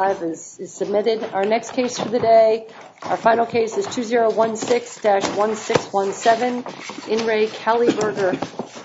Our next case for the day, our final case is 2016-1617 In Re CaliBurger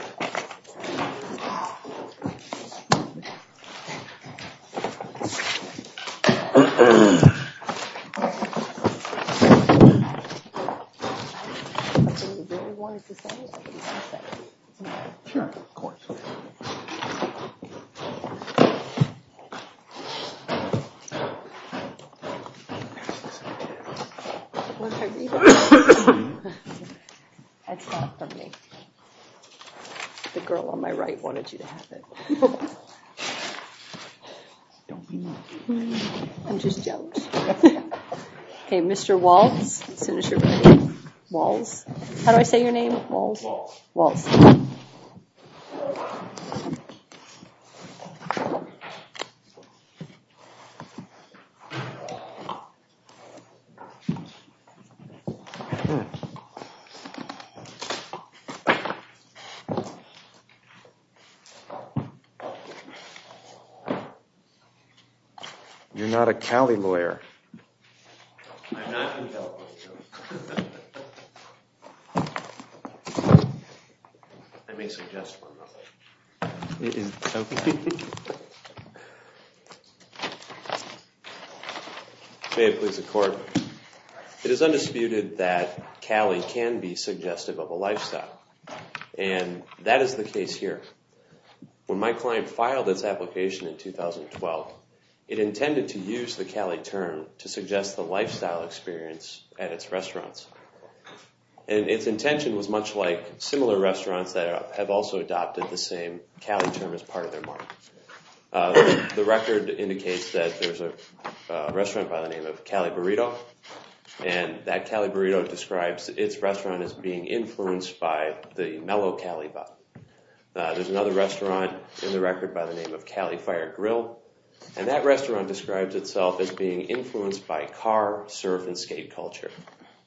The girl on my right wanted you to have it. I'm just joking. Okay, Mr. Waltz, as soon as you're ready. Waltz? How do I say your name? Waltz? Waltz. You're not a Cali lawyer. I'm not compelling you. I may suggest one, though. May it please the court. It is undisputed that Cali can be suggestive of a lifestyle. And that is the case here. When my client filed its application in 2012, it intended to use the Cali term to suggest the lifestyle experience at its restaurants. And its intention was much like similar restaurants that have also adopted the same Cali term as part of their market. The record indicates that there's a restaurant by the name of Cali Burrito, and that Cali Burrito describes its restaurant as being influenced by the Mellow Cali Bar. There's another restaurant in the record by the name of Cali Fire Grill, and that restaurant describes itself as being influenced by car, surf, and skate culture.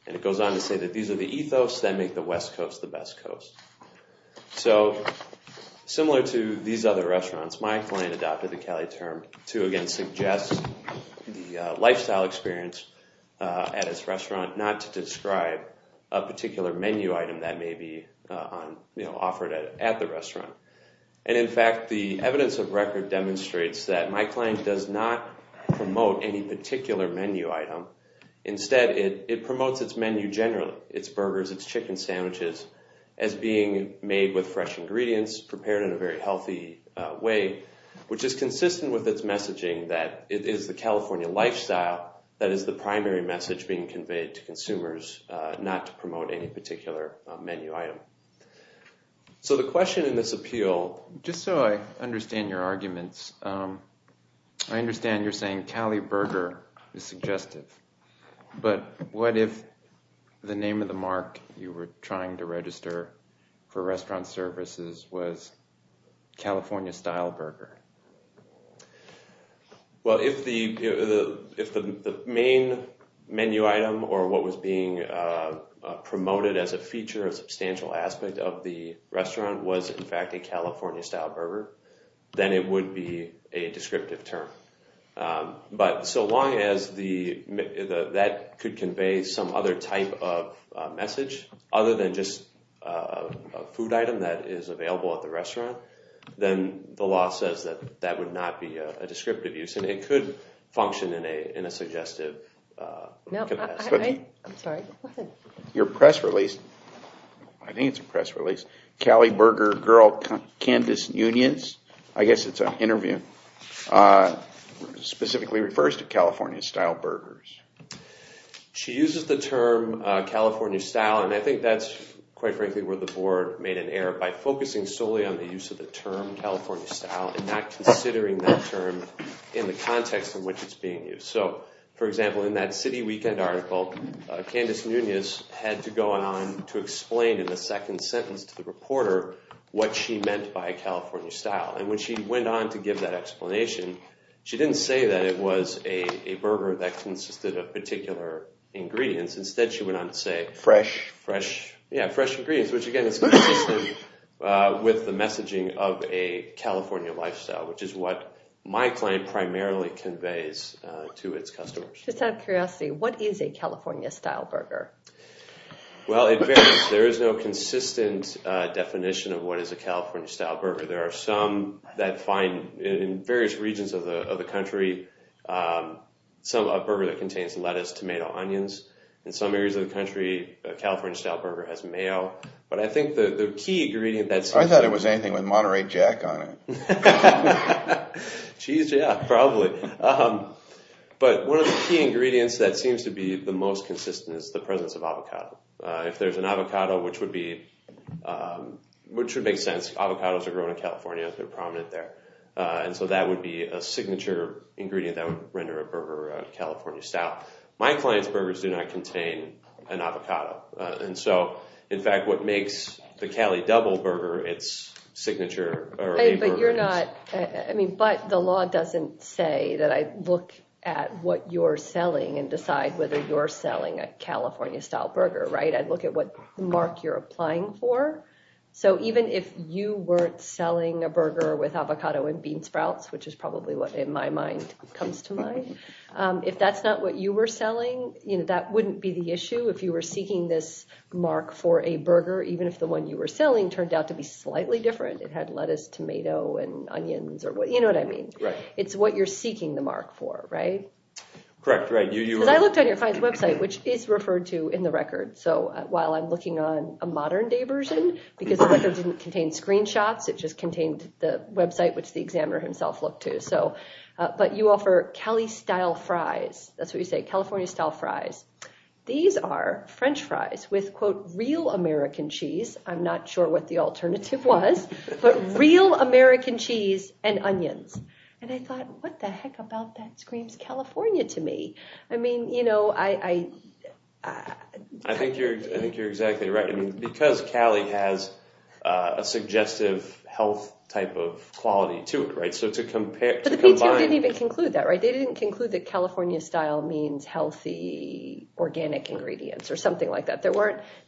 And it goes on to say that these are the ethos that make the West Coast the best coast. So, similar to these other restaurants, my client adopted the Cali term to, again, suggest the lifestyle experience at its restaurant, not to describe a particular menu item that may be offered at the restaurant. And, in fact, the evidence of record demonstrates that my client does not promote any particular menu item. Instead, it promotes its menu generally, its burgers, its chicken sandwiches, as being made with fresh ingredients, prepared in a very healthy way, which is consistent with its messaging that it is the California lifestyle that is the primary message being conveyed to consumers, not to promote any particular menu item. So the question in this appeal... Just so I understand your arguments, I understand you're saying Cali Burger is suggestive, but what if the name of the mark you were trying to register for restaurant services was California Style Burger? Well, if the main menu item, or what was being promoted as a feature, a substantial aspect of the restaurant, was, in fact, a California Style Burger, then it would be a descriptive term. But so long as that could convey some other type of message, other than just a food item that is available at the restaurant, then the law says that that would not be a descriptive use, and it could function in a suggestive... No, I'm sorry. Go ahead. Your press release, I think it's a press release, Cali Burger Girl Candice Unions, I guess it's an interview, specifically refers to California Style Burgers. She uses the term California Style, and I think that's, quite frankly, where the board made an error by focusing solely on the use of the term California Style and not considering that term in the context in which it's being used. So, for example, in that City Weekend article, Candice Unions had to go on to explain in the second sentence to the reporter what she meant by California Style. And when she went on to give that explanation, she didn't say that it was a burger that consisted of particular ingredients. Instead, she went on to say fresh ingredients, which, again, is consistent with the messaging of a California lifestyle, which is what my client primarily conveys to its customers. Just out of curiosity, what is a California Style Burger? Well, it varies. There is no consistent definition of what is a California Style Burger. There are some that find, in various regions of the country, a burger that contains lettuce, tomato, onions. In some areas of the country, a California Style Burger has mayo. But I think the key ingredient that seems to be— I thought it was anything with Monterey Jack on it. Cheese, yeah, probably. But one of the key ingredients that seems to be the most consistent is the presence of avocado. If there's an avocado, which would make sense. Avocados are grown in California. They're prominent there. And so that would be a signature ingredient that would render a burger a California Style. My client's burgers do not contain an avocado. And so, in fact, what makes the Cali Double Burger its signature— But you're not—I mean, but the law doesn't say that I look at what you're selling and decide whether you're selling a California Style Burger, right? I'd look at what mark you're applying for. So even if you weren't selling a burger with avocado and bean sprouts, which is probably what, in my mind, comes to mind, if that's not what you were selling, that wouldn't be the issue. If you were seeking this mark for a burger, even if the one you were selling turned out to be slightly different— it had lettuce, tomato, and onions, you know what I mean. It's what you're seeking the mark for, right? Correct, right. Because I looked on your client's website, which is referred to in the record. So while I'm looking on a modern-day version, because the record didn't contain screenshots, it just contained the website, which the examiner himself looked to. But you offer Cali Style Fries. That's what you say, California Style Fries. These are French fries with, quote, real American cheese. I'm not sure what the alternative was, but real American cheese and onions. And I thought, what the heck about that? Screams California to me. I mean, you know, I— I think you're exactly right. Because Cali has a suggestive health type of quality to it, right, so to compare— But the PTO didn't even conclude that, right? They didn't conclude that California Style means healthy, organic ingredients or something like that. They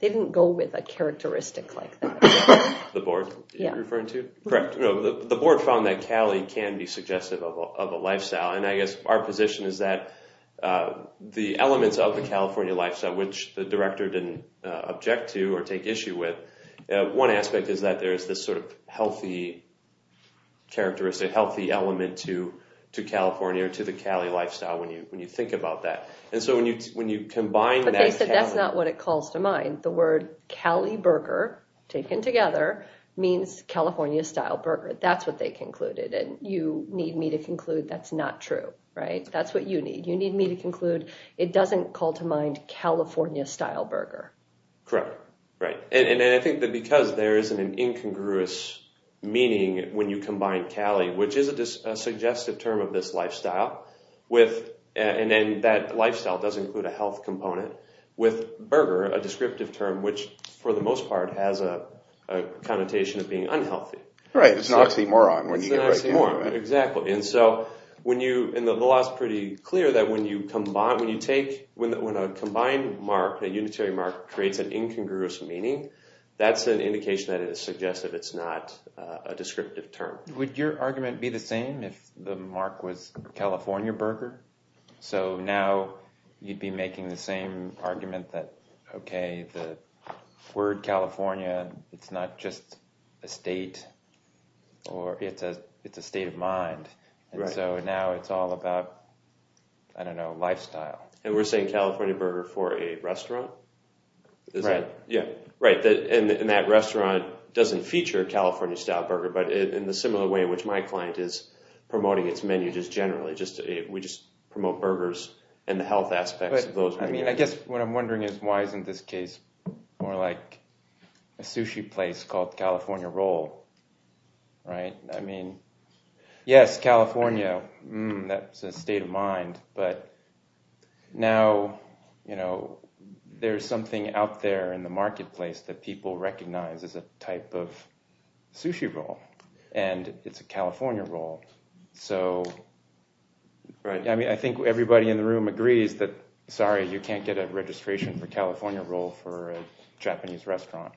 didn't go with a characteristic like that. The board you're referring to? Correct. The board found that Cali can be suggestive of a lifestyle, and I guess our position is that the elements of the California lifestyle, which the director didn't object to or take issue with, one aspect is that there is this sort of healthy characteristic, healthy element to California or to the Cali lifestyle when you think about that. And so when you combine that— But they said that's not what it calls to mind. The word Cali Burger, taken together, means California Style Burger. That's what they concluded, and you need me to conclude that's not true, right? That's what you need. You need me to conclude it doesn't call to mind California Style Burger. Correct. Right. And I think that because there isn't an incongruous meaning when you combine Cali, which is a suggestive term of this lifestyle, and then that lifestyle does include a health component, with burger, a descriptive term, which for the most part has a connotation of being unhealthy. Right. It's an oxymoron when you get right down to it. It's an oxymoron. Exactly. And so when you—and the law is pretty clear that when you take— when a combined mark, a unitary mark, creates an incongruous meaning, that's an indication that it is suggestive. It's not a descriptive term. Would your argument be the same if the mark was California Burger? So now you'd be making the same argument that, okay, the word California, it's not just a state or it's a state of mind. Right. And so now it's all about, I don't know, lifestyle. And we're saying California Burger for a restaurant? Right. Yeah. Right. And that restaurant doesn't feature California Style Burger, but in the similar way in which my client is promoting its menu just generally. We just promote burgers and the health aspects of those burgers. I mean, I guess what I'm wondering is why isn't this case more like a sushi place called California Roll, right? I mean, yes, California, that's a state of mind, but now there's something out there in the marketplace that people recognize as a type of sushi roll, and it's a California Roll. Right. I mean, I think everybody in the room agrees that, sorry, you can't get a registration for California Roll for a Japanese restaurant.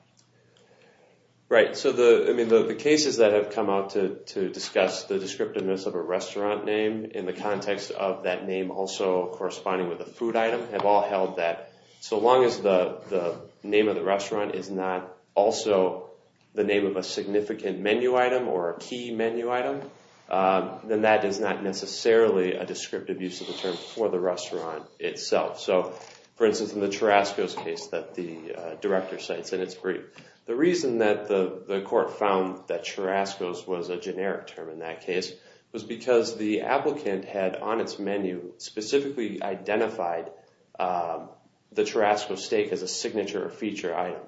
Right. So the cases that have come out to discuss the descriptiveness of a restaurant name in the context of that name also corresponding with a food item have all held that so long as the name of the restaurant is not also the name of a significant menu item or a key menu item, then that is not necessarily a descriptive use of the term for the restaurant itself. So, for instance, in the Churrasco's case that the director cites in its brief, the reason that the court found that Churrasco's was a generic term in that case was because the applicant had, on its menu, specifically identified the Churrasco steak as a signature or feature item.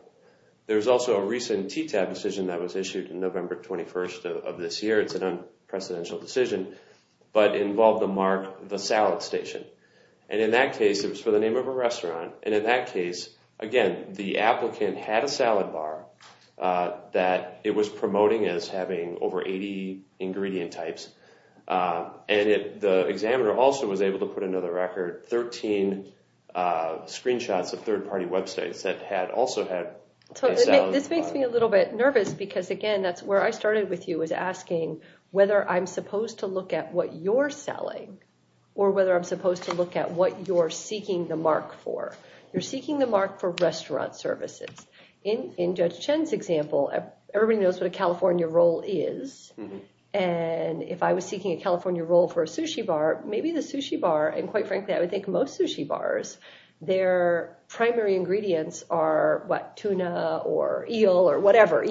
There was also a recent TTAB decision that was issued in November 21st of this year. It's an unprecedented decision, but it involved the mark, the salad station. And in that case, it was for the name of a restaurant. And in that case, again, the applicant had a salad bar that it was promoting as having over 80 ingredient types. And the examiner also was able to put another record, 13 screenshots of third-party websites that also had a salad bar. So this makes me a little bit nervous because, again, that's where I started with you was asking whether I'm supposed to look at what you're selling or whether I'm supposed to look at what you're seeking the mark for. You're seeking the mark for restaurant services. In Judge Chen's example, everybody knows what a California roll is. And if I was seeking a California roll for a sushi bar, maybe the sushi bar, and quite frankly, I would think most sushi bars, their primary ingredients are, what, tuna or eel or whatever.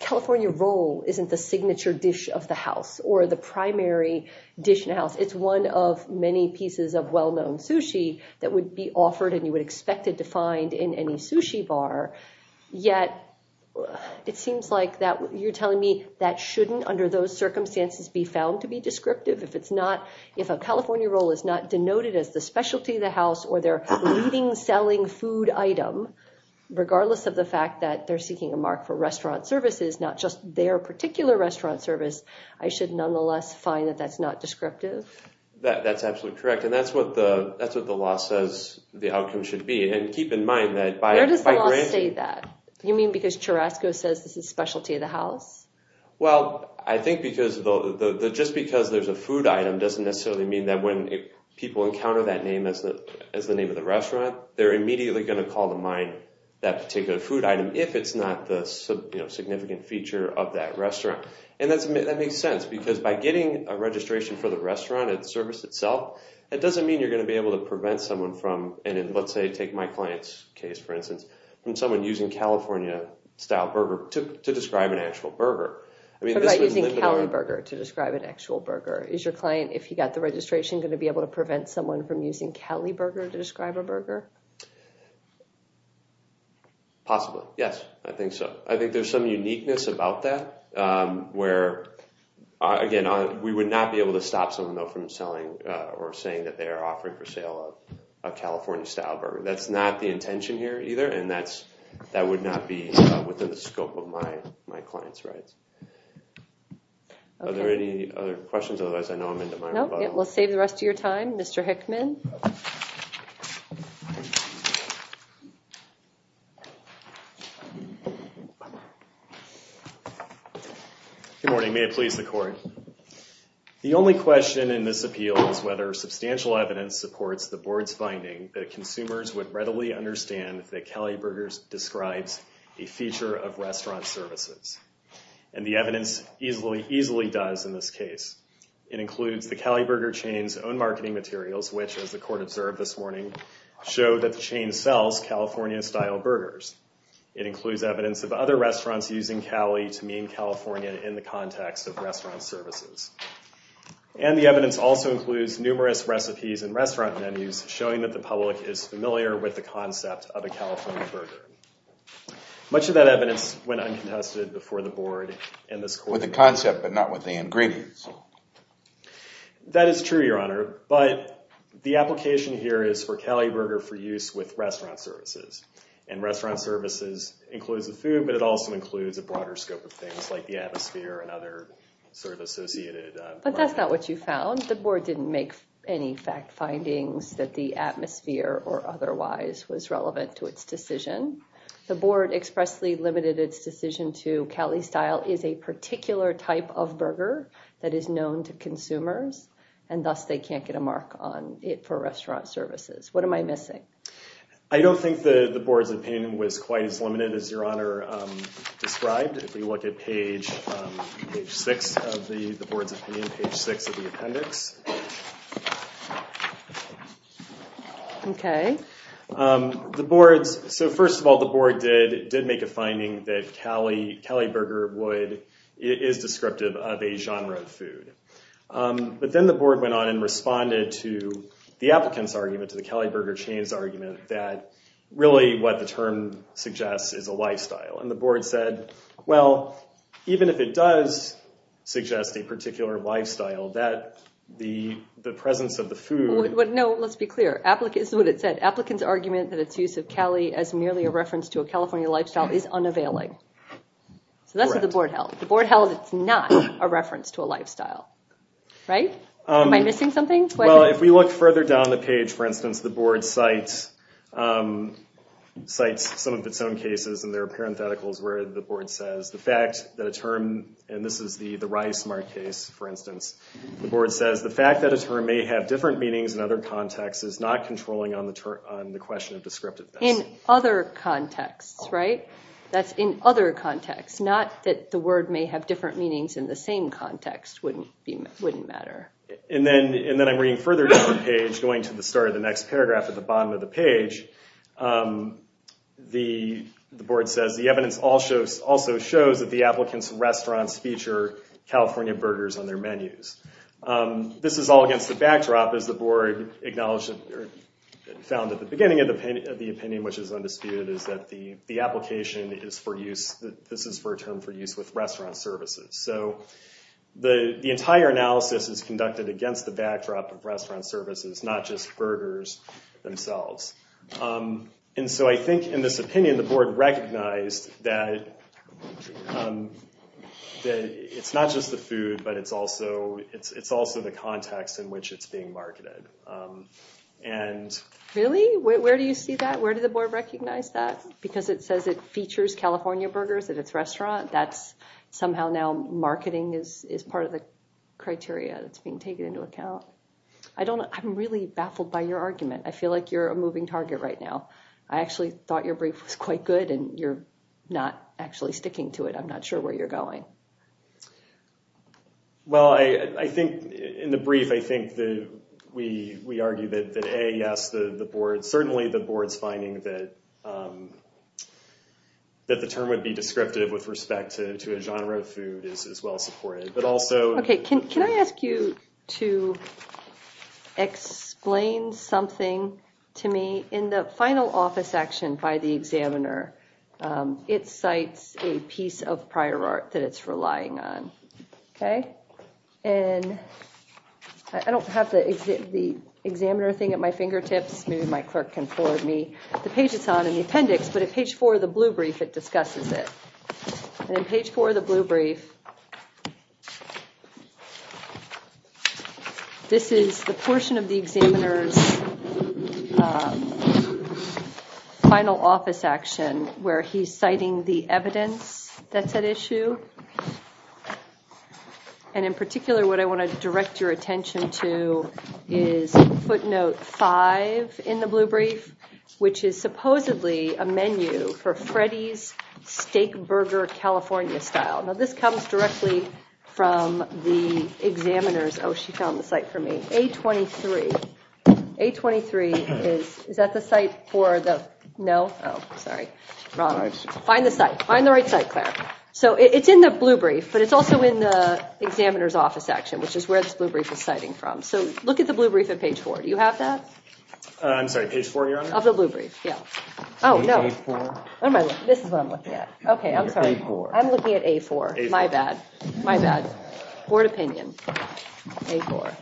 California roll isn't the signature dish of the house or the primary dish in the house. It's one of many pieces of well-known sushi that would be offered and you would expect it to find in any sushi bar. Yet it seems like you're telling me that shouldn't, under those circumstances, be found to be descriptive? If a California roll is not denoted as the specialty of the house or their leading selling food item, regardless of the fact that they're seeking a mark for restaurant services, not just their particular restaurant service, I should nonetheless find that that's not descriptive? That's absolutely correct. And that's what the law says the outcome should be. And keep in mind that by granting... Where does the law say that? You mean because Cherasco says this is specialty of the house? Well, I think because just because there's a food item doesn't necessarily mean that when people encounter that name as the name of the restaurant, they're immediately going to call to mind that particular food item if it's not the significant feature of that restaurant. And that makes sense because by getting a registration for the restaurant service itself, it doesn't mean you're going to be able to prevent someone from, and let's say take my client's case, for instance, from someone using California-style burger to describe an actual burger. What about using Cali burger to describe an actual burger? Is your client, if he got the registration, going to be able to prevent someone from using Cali burger to describe a burger? Possibly, yes. I think so. I think there's some uniqueness about that where, again, we would not be able to stop someone, though, from selling or saying that they are offering for sale a California-style burger. That's not the intention here either, and that would not be within the scope of my client's rights. Are there any other questions? Otherwise, I know I'm into my rebuttal. We'll save the rest of your time. Mr. Hickman. Good morning. May it please the Court. The only question in this appeal is whether substantial evidence supports the Board's finding that consumers would readily understand that Cali burgers describes a feature of restaurant services. And the evidence easily does in this case. It includes the Cali burger chain's own marketing materials, which, as the Court observed this morning, show that the chain sells California-style burgers. It includes evidence of other restaurants using Cali to mean California in the context of restaurant services. And the evidence also includes numerous recipes and restaurant menus showing that the public is familiar with the concept of a California burger. Much of that evidence went uncontested before the Board and this Court. With the concept, but not with the ingredients. That is true, Your Honor, but the application here is for Cali burger for use with restaurant services. And restaurant services includes the food, but it also includes a broader scope of things like the atmosphere and other sort of associated products. But that's not what you found. The Board didn't make any fact findings that the atmosphere or otherwise was relevant to its decision. The Board expressly limited its decision to Cali style is a particular type of burger that is known to consumers, and thus they can't get a mark on it for restaurant services. What am I missing? I don't think the Board's opinion was quite as limited as Your Honor described. If we look at page six of the Board's opinion, page six of the appendix. Okay. So first of all, the Board did make a finding that Cali burger is descriptive of a genre of food. But then the Board went on and responded to the applicant's argument, to the Cali burger chain's argument, that really what the term suggests is a lifestyle. And the Board said, well, even if it does suggest a particular lifestyle, that the presence of the food... No, let's be clear. This is what it said. Applicant's argument that its use of Cali as merely a reference to a California lifestyle is unavailing. So that's what the Board held. The Board held it's not a reference to a lifestyle. Right? Am I missing something? Well, if we look further down the page, for instance, the Board cites some of its own cases and there are parentheticals where the Board says the fact that a term, and this is the Rice-Mark case, for instance, the Board says the fact that a term may have different meanings in other contexts is not controlling on the question of descriptiveness. In other contexts, right? That's in other contexts. Not that the word may have different meanings in the same context wouldn't matter. And then I'm reading further down the page, going to the start of the next paragraph at the bottom of the page. The Board says the evidence also shows that the applicant's restaurants feature California burgers on their menus. This is all against the backdrop, as the Board acknowledged or found at the beginning of the opinion, which is undisputed, is that the application is for use, this is for a term for use with restaurant services. So the entire analysis is conducted against the backdrop of restaurant services, not just burgers themselves. And so I think in this opinion, the Board recognized that it's not just the food, but it's also the context in which it's being marketed. Really? Where do you see that? Where did the Board recognize that? Because it says it features California burgers at its restaurant? That's somehow now marketing is part of the criteria that's being taken into account. I don't know. I'm really baffled by your argument. I feel like you're a moving target right now. I actually thought your brief was quite good, and you're not actually sticking to it. I'm not sure where you're going. Well, I think in the brief, I think that we argue that A, yes, the Board, certainly the Board's finding that the term would be descriptive with respect to a genre of food is well supported. Can I ask you to explain something to me? In the final office action by the examiner, it cites a piece of prior art that it's relying on. I don't have the examiner thing at my fingertips. Maybe my clerk can forward me the page it's on in the appendix. But at page four of the blue brief, it discusses it. In page four of the blue brief, this is the portion of the examiner's final office action where he's citing the evidence that's at issue. In particular, what I want to direct your attention to is footnote five in the blue brief, which is supposedly a menu for Freddy's Steakburger California style. Now, this comes directly from the examiner's... Oh, she found the site for me. A23. A23 is... Is that the site for the... No? Oh, sorry. Find the site. Find the right site, Claire. So it's in the blue brief, but it's also in the examiner's office action, which is where this blue brief is citing from. So look at the blue brief at page four. Do you have that? I'm sorry. Page four, your honor? Of the blue brief, yeah. Oh, no. A4. This is what I'm looking at. Okay, I'm sorry. I'm looking at A4. My bad. My bad. Board opinion. A4.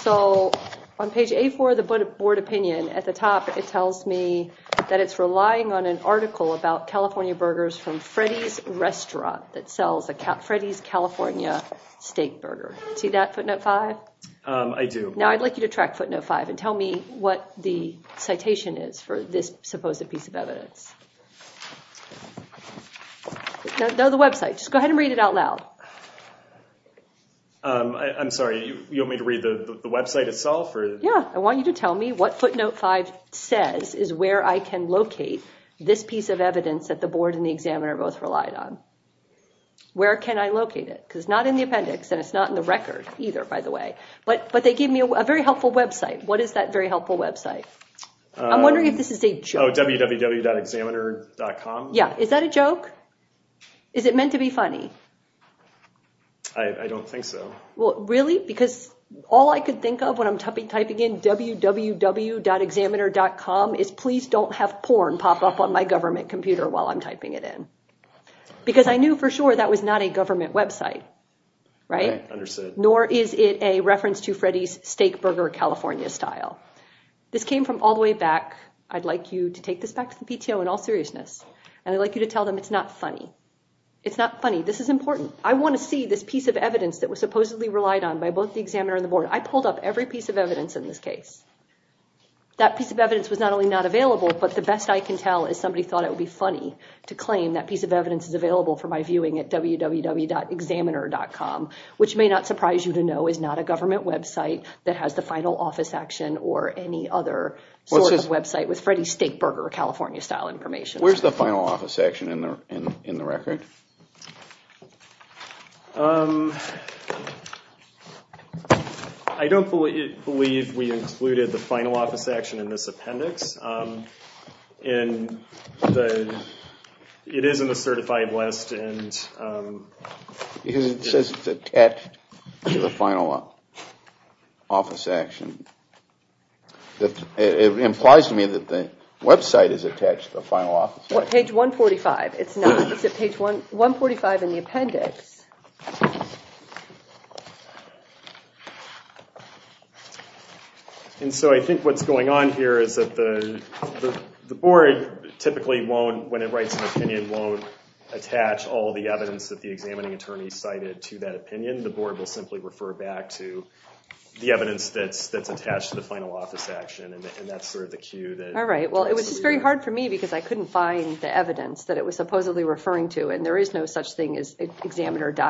So on page A4 of the board opinion, at the top it tells me that it's relying on an article about California burgers from Freddy's Restaurant that sells a Freddy's California steakburger. See that, footnote five? I do. Now I'd like you to track footnote five and tell me what the citation is for this supposed piece of evidence. No, the website. Just go ahead and read it out loud. I'm sorry. You want me to read the website itself? Yeah. I want you to tell me what footnote five says is where I can locate this piece of evidence that the board and the examiner both relied on. Where can I locate it? Because it's not in the appendix and it's not in the record either, by the way. But they gave me a very helpful website. What is that very helpful website? I'm wondering if this is a joke. Oh, www.examiner.com? Yeah. Is that a joke? Is it meant to be funny? I don't think so. Really? Because all I could think of when I'm typing in www.examiner.com is please don't have porn pop up on my government computer while I'm typing it in. Because I knew for sure that was not a government website, right? Right. Understood. Nor is it a reference to Freddy's Steakburger California style. This came from all the way back. I'd like you to take this back to the PTO in all seriousness. And I'd like you to tell them it's not funny. It's not funny. This is important. I want to see this piece of evidence that was supposedly relied on by both the examiner and the board. I pulled up every piece of evidence in this case. That piece of evidence was not only not available, but the best I can tell is somebody thought it would be funny to claim that piece of evidence is available for my viewing at www.examiner.com, which may not surprise you to know is not a government website that has the final office action or any other sort of website with Freddy's Steakburger California style information. Where's the final office action in the record? I don't believe we included the final office action in this appendix. It is in the certified list. It says it's attached to the final office action. It implies to me that the website is attached to the final office action. Page 145. It's not. It's at page 145 in the appendix. And so I think what's going on here is that the board typically won't, when it writes an opinion, won't attach all the evidence that the examining attorney cited to that opinion. The board will simply refer back to the evidence that's attached to the final office action and that's sort of the cue. All right. Well, it was just very hard for me because I couldn't find the evidence that it was supposedly referring to and there is no such thing as examiner data.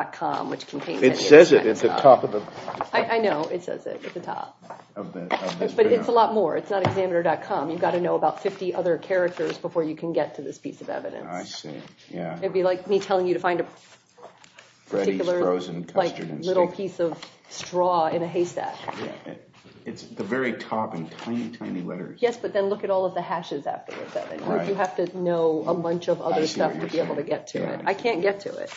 It says it. It's at the top. I know. It says it at the top. But it's a lot more. It's not examiner.com. You've got to know about 50 other characters before you can get to this piece of evidence. I see. Yeah. It'd be like me telling you to find a particular little piece of straw in a haystack. It's the very top in tiny, tiny letters. Yes, but then look at all of the hashes afterwards. You have to know a bunch of other stuff to be able to get to it. I can't get to it.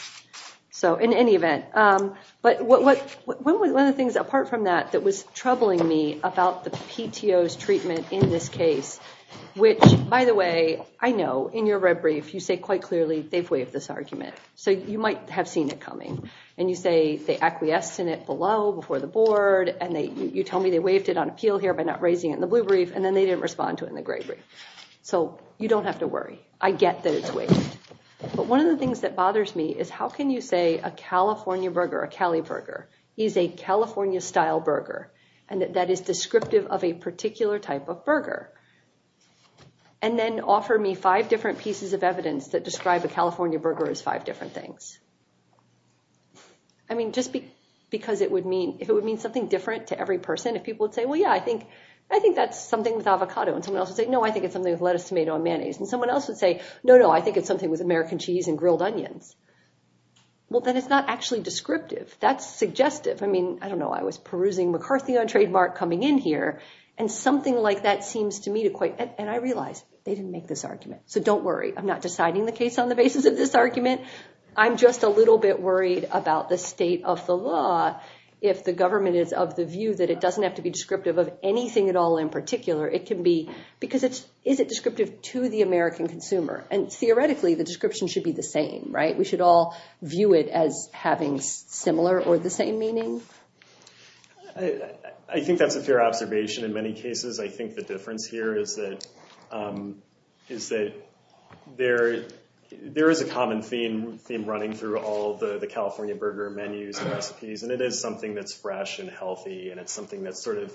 In any event, one of the things apart from that that was troubling me about the PTO's treatment in this case, which by the way, I know in your red brief you say quite clearly they've waived this argument. So you might have seen it coming. And you say they acquiesced in it below, before the board, and you tell me they waived it on appeal here by not raising it in the blue brief and then they didn't respond to it in the gray brief. So you don't have to worry. I get that it's waived. But one of the things that bothers me is how can you say a California burger, a Cali burger, is a California-style burger and that that is descriptive of a particular type of burger and then offer me five different pieces of evidence that describe a California burger as five different things? I mean, just because it would mean, if it would mean something different to every person, if people would say, well, yeah, I think that's something with avocado. And someone else would say, no, I think it's something with lettuce, tomato, and mayonnaise. And someone else would say, no, no, I think it's something with American cheese and grilled onions. Well, then it's not actually descriptive. That's suggestive. I mean, I don't know. I was perusing McCarthy on trademark coming in here. And something like that seems to me to quite, and I realize they didn't make this argument. So don't worry. I'm not deciding the case on the basis of this argument. I'm just a little bit worried about the state of the law if the government is of the view that it doesn't have to be descriptive of anything at all in particular. Because is it descriptive to the American consumer? And theoretically, the description should be the same, right? We should all view it as having similar or the same meaning? I think that's a fair observation in many cases. I think the difference here is that there is a common theme running through all the California burger menus and recipes. And it is something that's fresh and healthy. And it's something that's sort of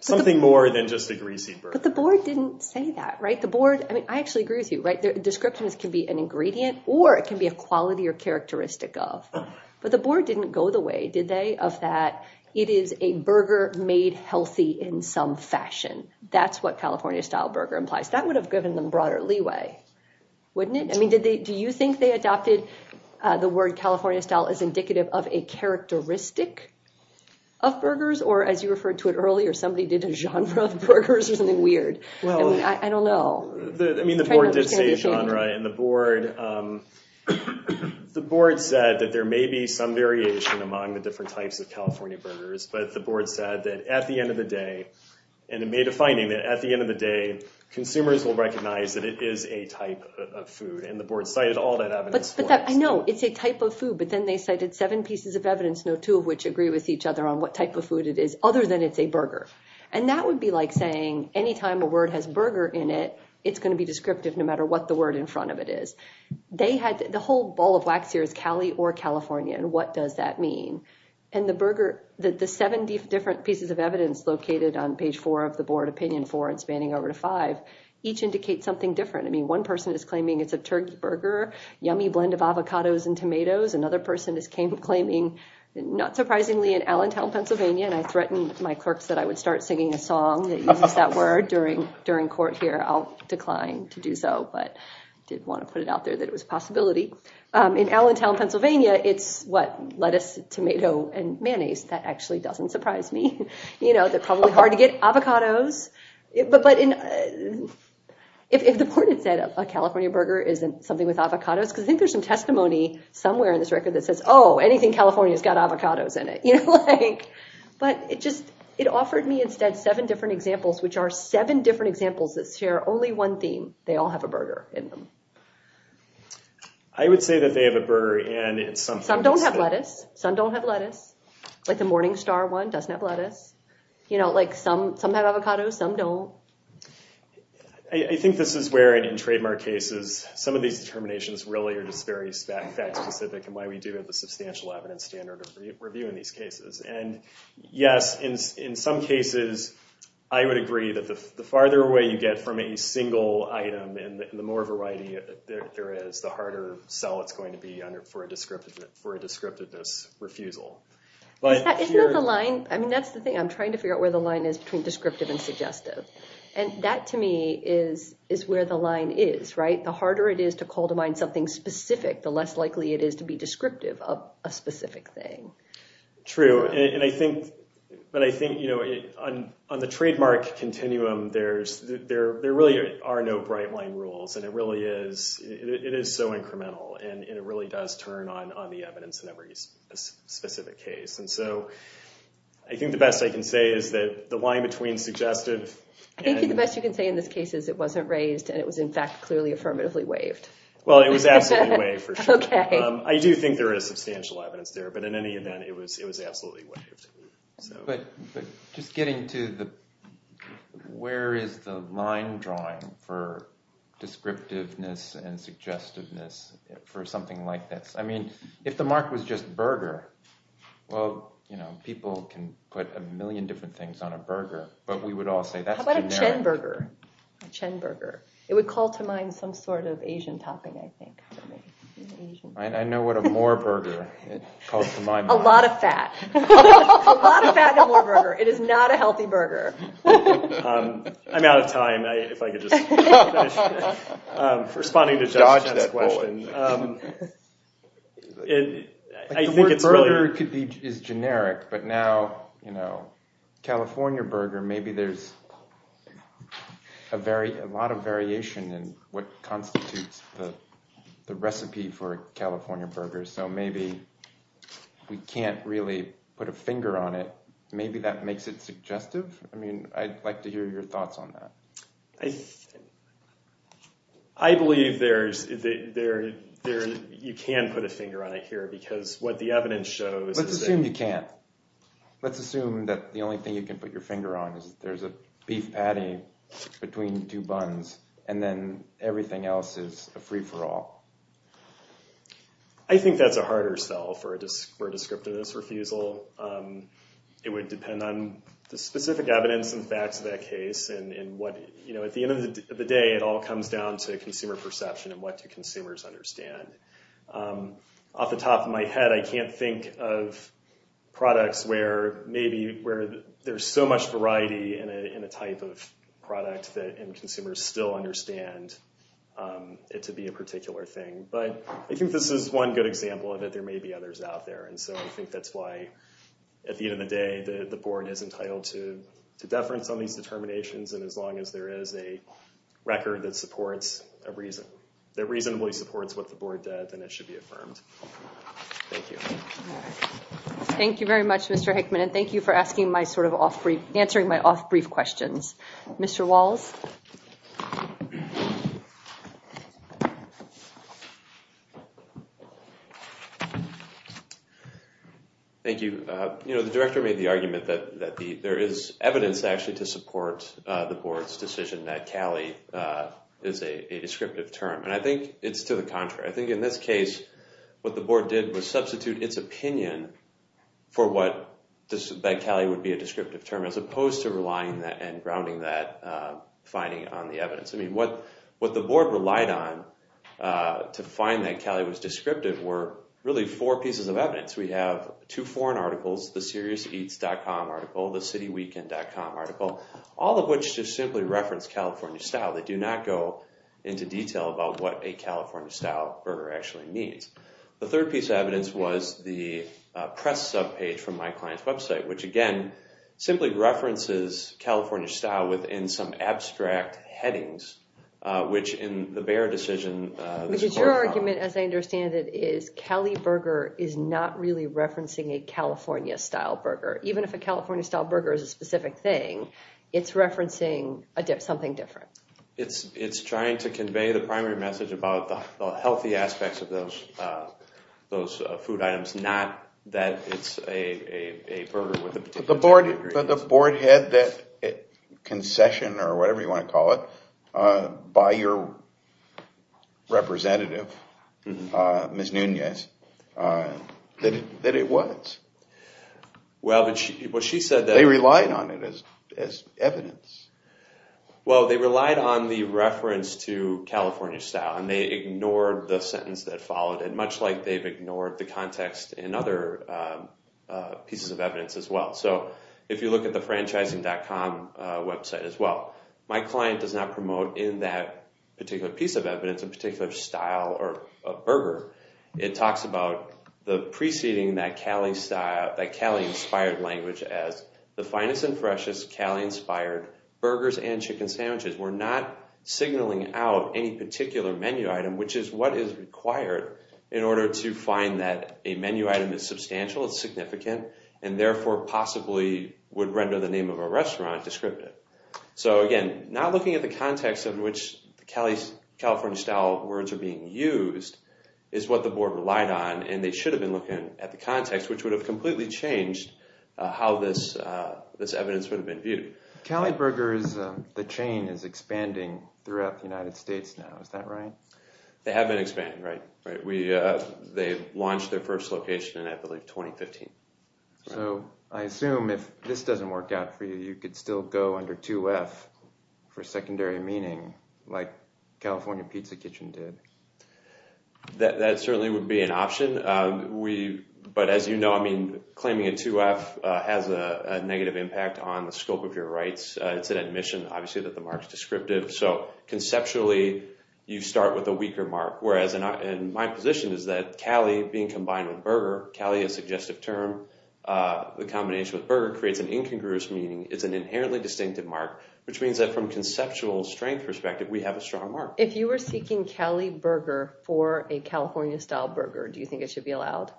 something more than just a greasy burger. But the board didn't say that, right? The board, I mean, I actually agree with you, right? Descriptions can be an ingredient or it can be a quality or characteristic of. But the board didn't go the way, did they, of that it is a burger made healthy in some fashion. That's what California-style burger implies. That would have given them broader leeway, wouldn't it? I mean, do you think they adopted the word California-style as indicative of a characteristic of burgers? Or as you referred to it earlier, somebody did a genre of burgers or something weird? I don't know. I mean, the board did say genre. And the board said that there may be some variation among the different types of California burgers. But the board said that at the end of the day, and it made a finding that at the end of the day, consumers will recognize that it is a type of food. And the board cited all that evidence for it. But I know it's a type of food. But then they cited seven pieces of evidence, no two of which agree with each other on what type of food it is, other than it's a burger. And that would be like saying any time a word has burger in it, it's going to be descriptive no matter what the word in front of it is. They had the whole ball of wax here is Cali or California. And what does that mean? And the seven different pieces of evidence located on page four of the board opinion, four and spanning over to five, each indicate something different. I mean, one person is claiming it's a turkey burger, yummy blend of avocados and tomatoes. Another person is claiming, not surprisingly, in Allentown, Pennsylvania, and I threatened my clerks that I would start singing a song that uses that word during court here. I'll decline to do so. But I did want to put it out there that it was a possibility. In Allentown, Pennsylvania, it's what? Lettuce, tomato, and mayonnaise. That actually doesn't surprise me. You know, they're probably hard to get. Avocados. But if the board had said a California burger isn't something with avocados, because I think there's some testimony somewhere in this record that says, oh, anything California has got avocados in it. But it just it offered me instead seven different examples, which are seven different examples that share only one theme. They all have a burger in them. I would say that they have a burger in it. Some don't have lettuce. Some don't have lettuce. Like the Morningstar one doesn't have lettuce. You know, like some have avocados, some don't. I think this is where, in trademark cases, some of these determinations really are just very fact specific in why we do have the substantial evidence standard of review in these cases. And yes, in some cases, I would agree that the farther away you get from a single item and the more variety there is, the harder sell it's going to be for a descriptiveness refusal. Isn't that the line? I mean, that's the thing. I'm trying to figure out where the line is between descriptive and suggestive. And that, to me, is where the line is, right? The harder it is to call to mind something specific, the less likely it is to be descriptive of a specific thing. True. But I think, you know, on the trademark continuum, there really are no bright line rules. And it really is so incremental. And it really does turn on the evidence in every specific case. And so I think the best I can say is that the line between suggestive and— I think the best you can say in this case is it wasn't raised and it was, in fact, clearly affirmatively waived. Well, it was absolutely waived, for sure. Okay. I do think there is substantial evidence there. But in any event, it was absolutely waived. But just getting to the—where is the line drawing for descriptiveness and suggestiveness for something like this? I mean, if the mark was just burger, well, you know, people can put a million different things on a burger. But we would all say that's generic. How about a Chen burger? A Chen burger. It would call to mind some sort of Asian topping, I think. I know what a Moore burger calls to mind. A lot of fat. A lot of fat in a Moore burger. It is not a healthy burger. I'm out of time. If I could just finish responding to Josh's question. The word burger is generic, but now, you know, California burger, maybe there's a lot of variation in what constitutes the recipe for a California burger. So maybe we can't really put a finger on it. Maybe that makes it suggestive. I mean, I'd like to hear your thoughts on that. I believe there's—you can put a finger on it here, because what the evidence shows— Let's assume you can't. Let's assume that the only thing you can put your finger on is that there's a beef patty between two buns, and then everything else is a free-for-all. I think that's a harder sell for a descriptiveness refusal. It would depend on the specific evidence and facts of that case. At the end of the day, it all comes down to consumer perception and what do consumers understand. Off the top of my head, I can't think of products where there's so much variety in a type of product and consumers still understand it to be a particular thing. But I think this is one good example of it. There may be others out there. And so I think that's why, at the end of the day, the board is entitled to deference on these determinations. And as long as there is a record that reasonably supports what the board did, then it should be affirmed. Thank you. Thank you very much, Mr. Hickman. And thank you for answering my off-brief questions. Mr. Walls? Thank you. You know, the director made the argument that there is evidence actually to support the board's decision that CALI is a descriptive term. And I think it's to the contrary. I think in this case, what the board did was substitute its opinion for what CALI would be a descriptive term as opposed to relying and grounding that finding on the evidence. I mean, what the board relied on to find that CALI was descriptive were really four pieces of evidence. We have two foreign articles, the seriouseats.com article, the cityweekend.com article, all of which just simply reference California style. They do not go into detail about what a California style burger actually means. The third piece of evidence was the press subpage from my client's website, which, again, simply references California style within some abstract headings, which in the Bayer decision… Because your argument, as I understand it, is CALI burger is not really referencing a California style burger. Even if a California style burger is a specific thing, it's referencing something different. It's trying to convey the primary message about the healthy aspects of those food items, not that it's a burger with a particular… But the board had that concession or whatever you want to call it by your representative, Ms. Nunez, that it was. Well, she said that… They relied on it as evidence. Well, they relied on the reference to California style, and they ignored the sentence that followed it, much like they've ignored the context in other pieces of evidence as well. So, if you look at the franchising.com website as well, my client does not promote in that particular piece of evidence a particular style or a burger. It talks about the preceding that CALI-inspired language as the finest and freshest CALI-inspired burgers and chicken sandwiches. We're not signaling out any particular menu item, which is what is required in order to find that a menu item is substantial, it's significant, and therefore possibly would render the name of a restaurant descriptive. So, again, not looking at the context in which the California style words are being used is what the board relied on, and they should have been looking at the context, which would have completely changed how this evidence would have been viewed. CALI burgers, the chain is expanding throughout the United States now, is that right? They have been expanding, right. They launched their first location in, I believe, 2015. So, I assume if this doesn't work out for you, you could still go under 2F for secondary meaning, like California Pizza Kitchen did. That certainly would be an option. But as you know, I mean, claiming a 2F has a negative impact on the scope of your rights. It's an admission, obviously, that the mark's descriptive. So, conceptually, you start with a weaker mark, whereas in my position is that CALI being combined with burger, CALI is a suggestive term. The combination with burger creates an incongruous meaning. It's an inherently distinctive mark, which means that from a conceptual strength perspective, we have a strong mark. If you were seeking CALI burger for a California style burger, do you think it should be allowed?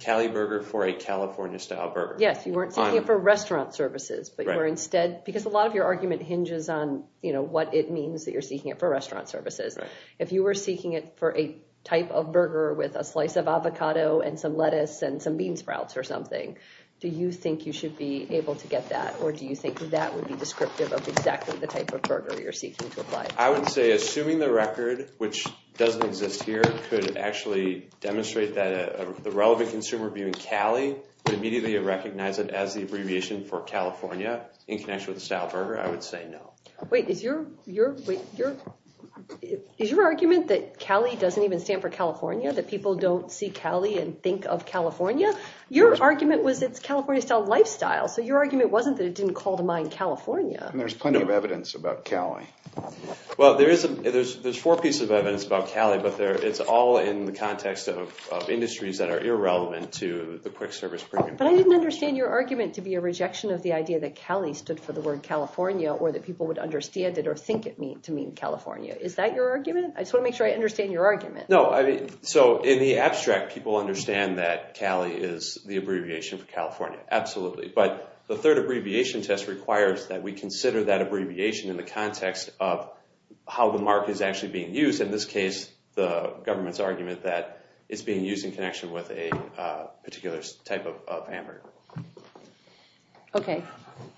CALI burger for a California style burger? Yes, you weren't seeking it for restaurant services. Because a lot of your argument hinges on what it means that you're seeking it for restaurant services. If you were seeking it for a type of burger with a slice of avocado and some lettuce and some bean sprouts or something, do you think you should be able to get that? Or do you think that would be descriptive of exactly the type of burger you're seeking to apply? I would say, assuming the record, which doesn't exist here, could actually demonstrate that the relevant consumer viewing CALI would immediately recognize it as the abbreviation for California in connection with the style burger, I would say no. Wait, is your argument that CALI doesn't even stand for California, that people don't see CALI and think of California? Your argument was it's California style lifestyle, so your argument wasn't that it didn't call to mind California. There's plenty of evidence about CALI. Well, there's four pieces of evidence about CALI, but it's all in the context of industries that are irrelevant to the quick service premium. But I didn't understand your argument to be a rejection of the idea that CALI stood for the word California or that people would understand it or think it to mean California. Is that your argument? I just want to make sure I understand your argument. No, so in the abstract, people understand that CALI is the abbreviation for California, absolutely. But the third abbreviation test requires that we consider that abbreviation in the context of how the mark is actually being used. In this case, the government's argument that it's being used in connection with a particular type of hamburger. Okay,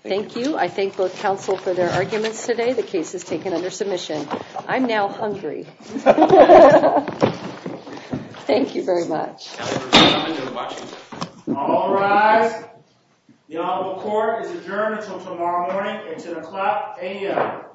thank you. I thank both counsel for their arguments today. The case is taken under submission. I'm now hungry. Thank you very much. All rise. The honorable court is adjourned until tomorrow morning at 10 o'clock a.m.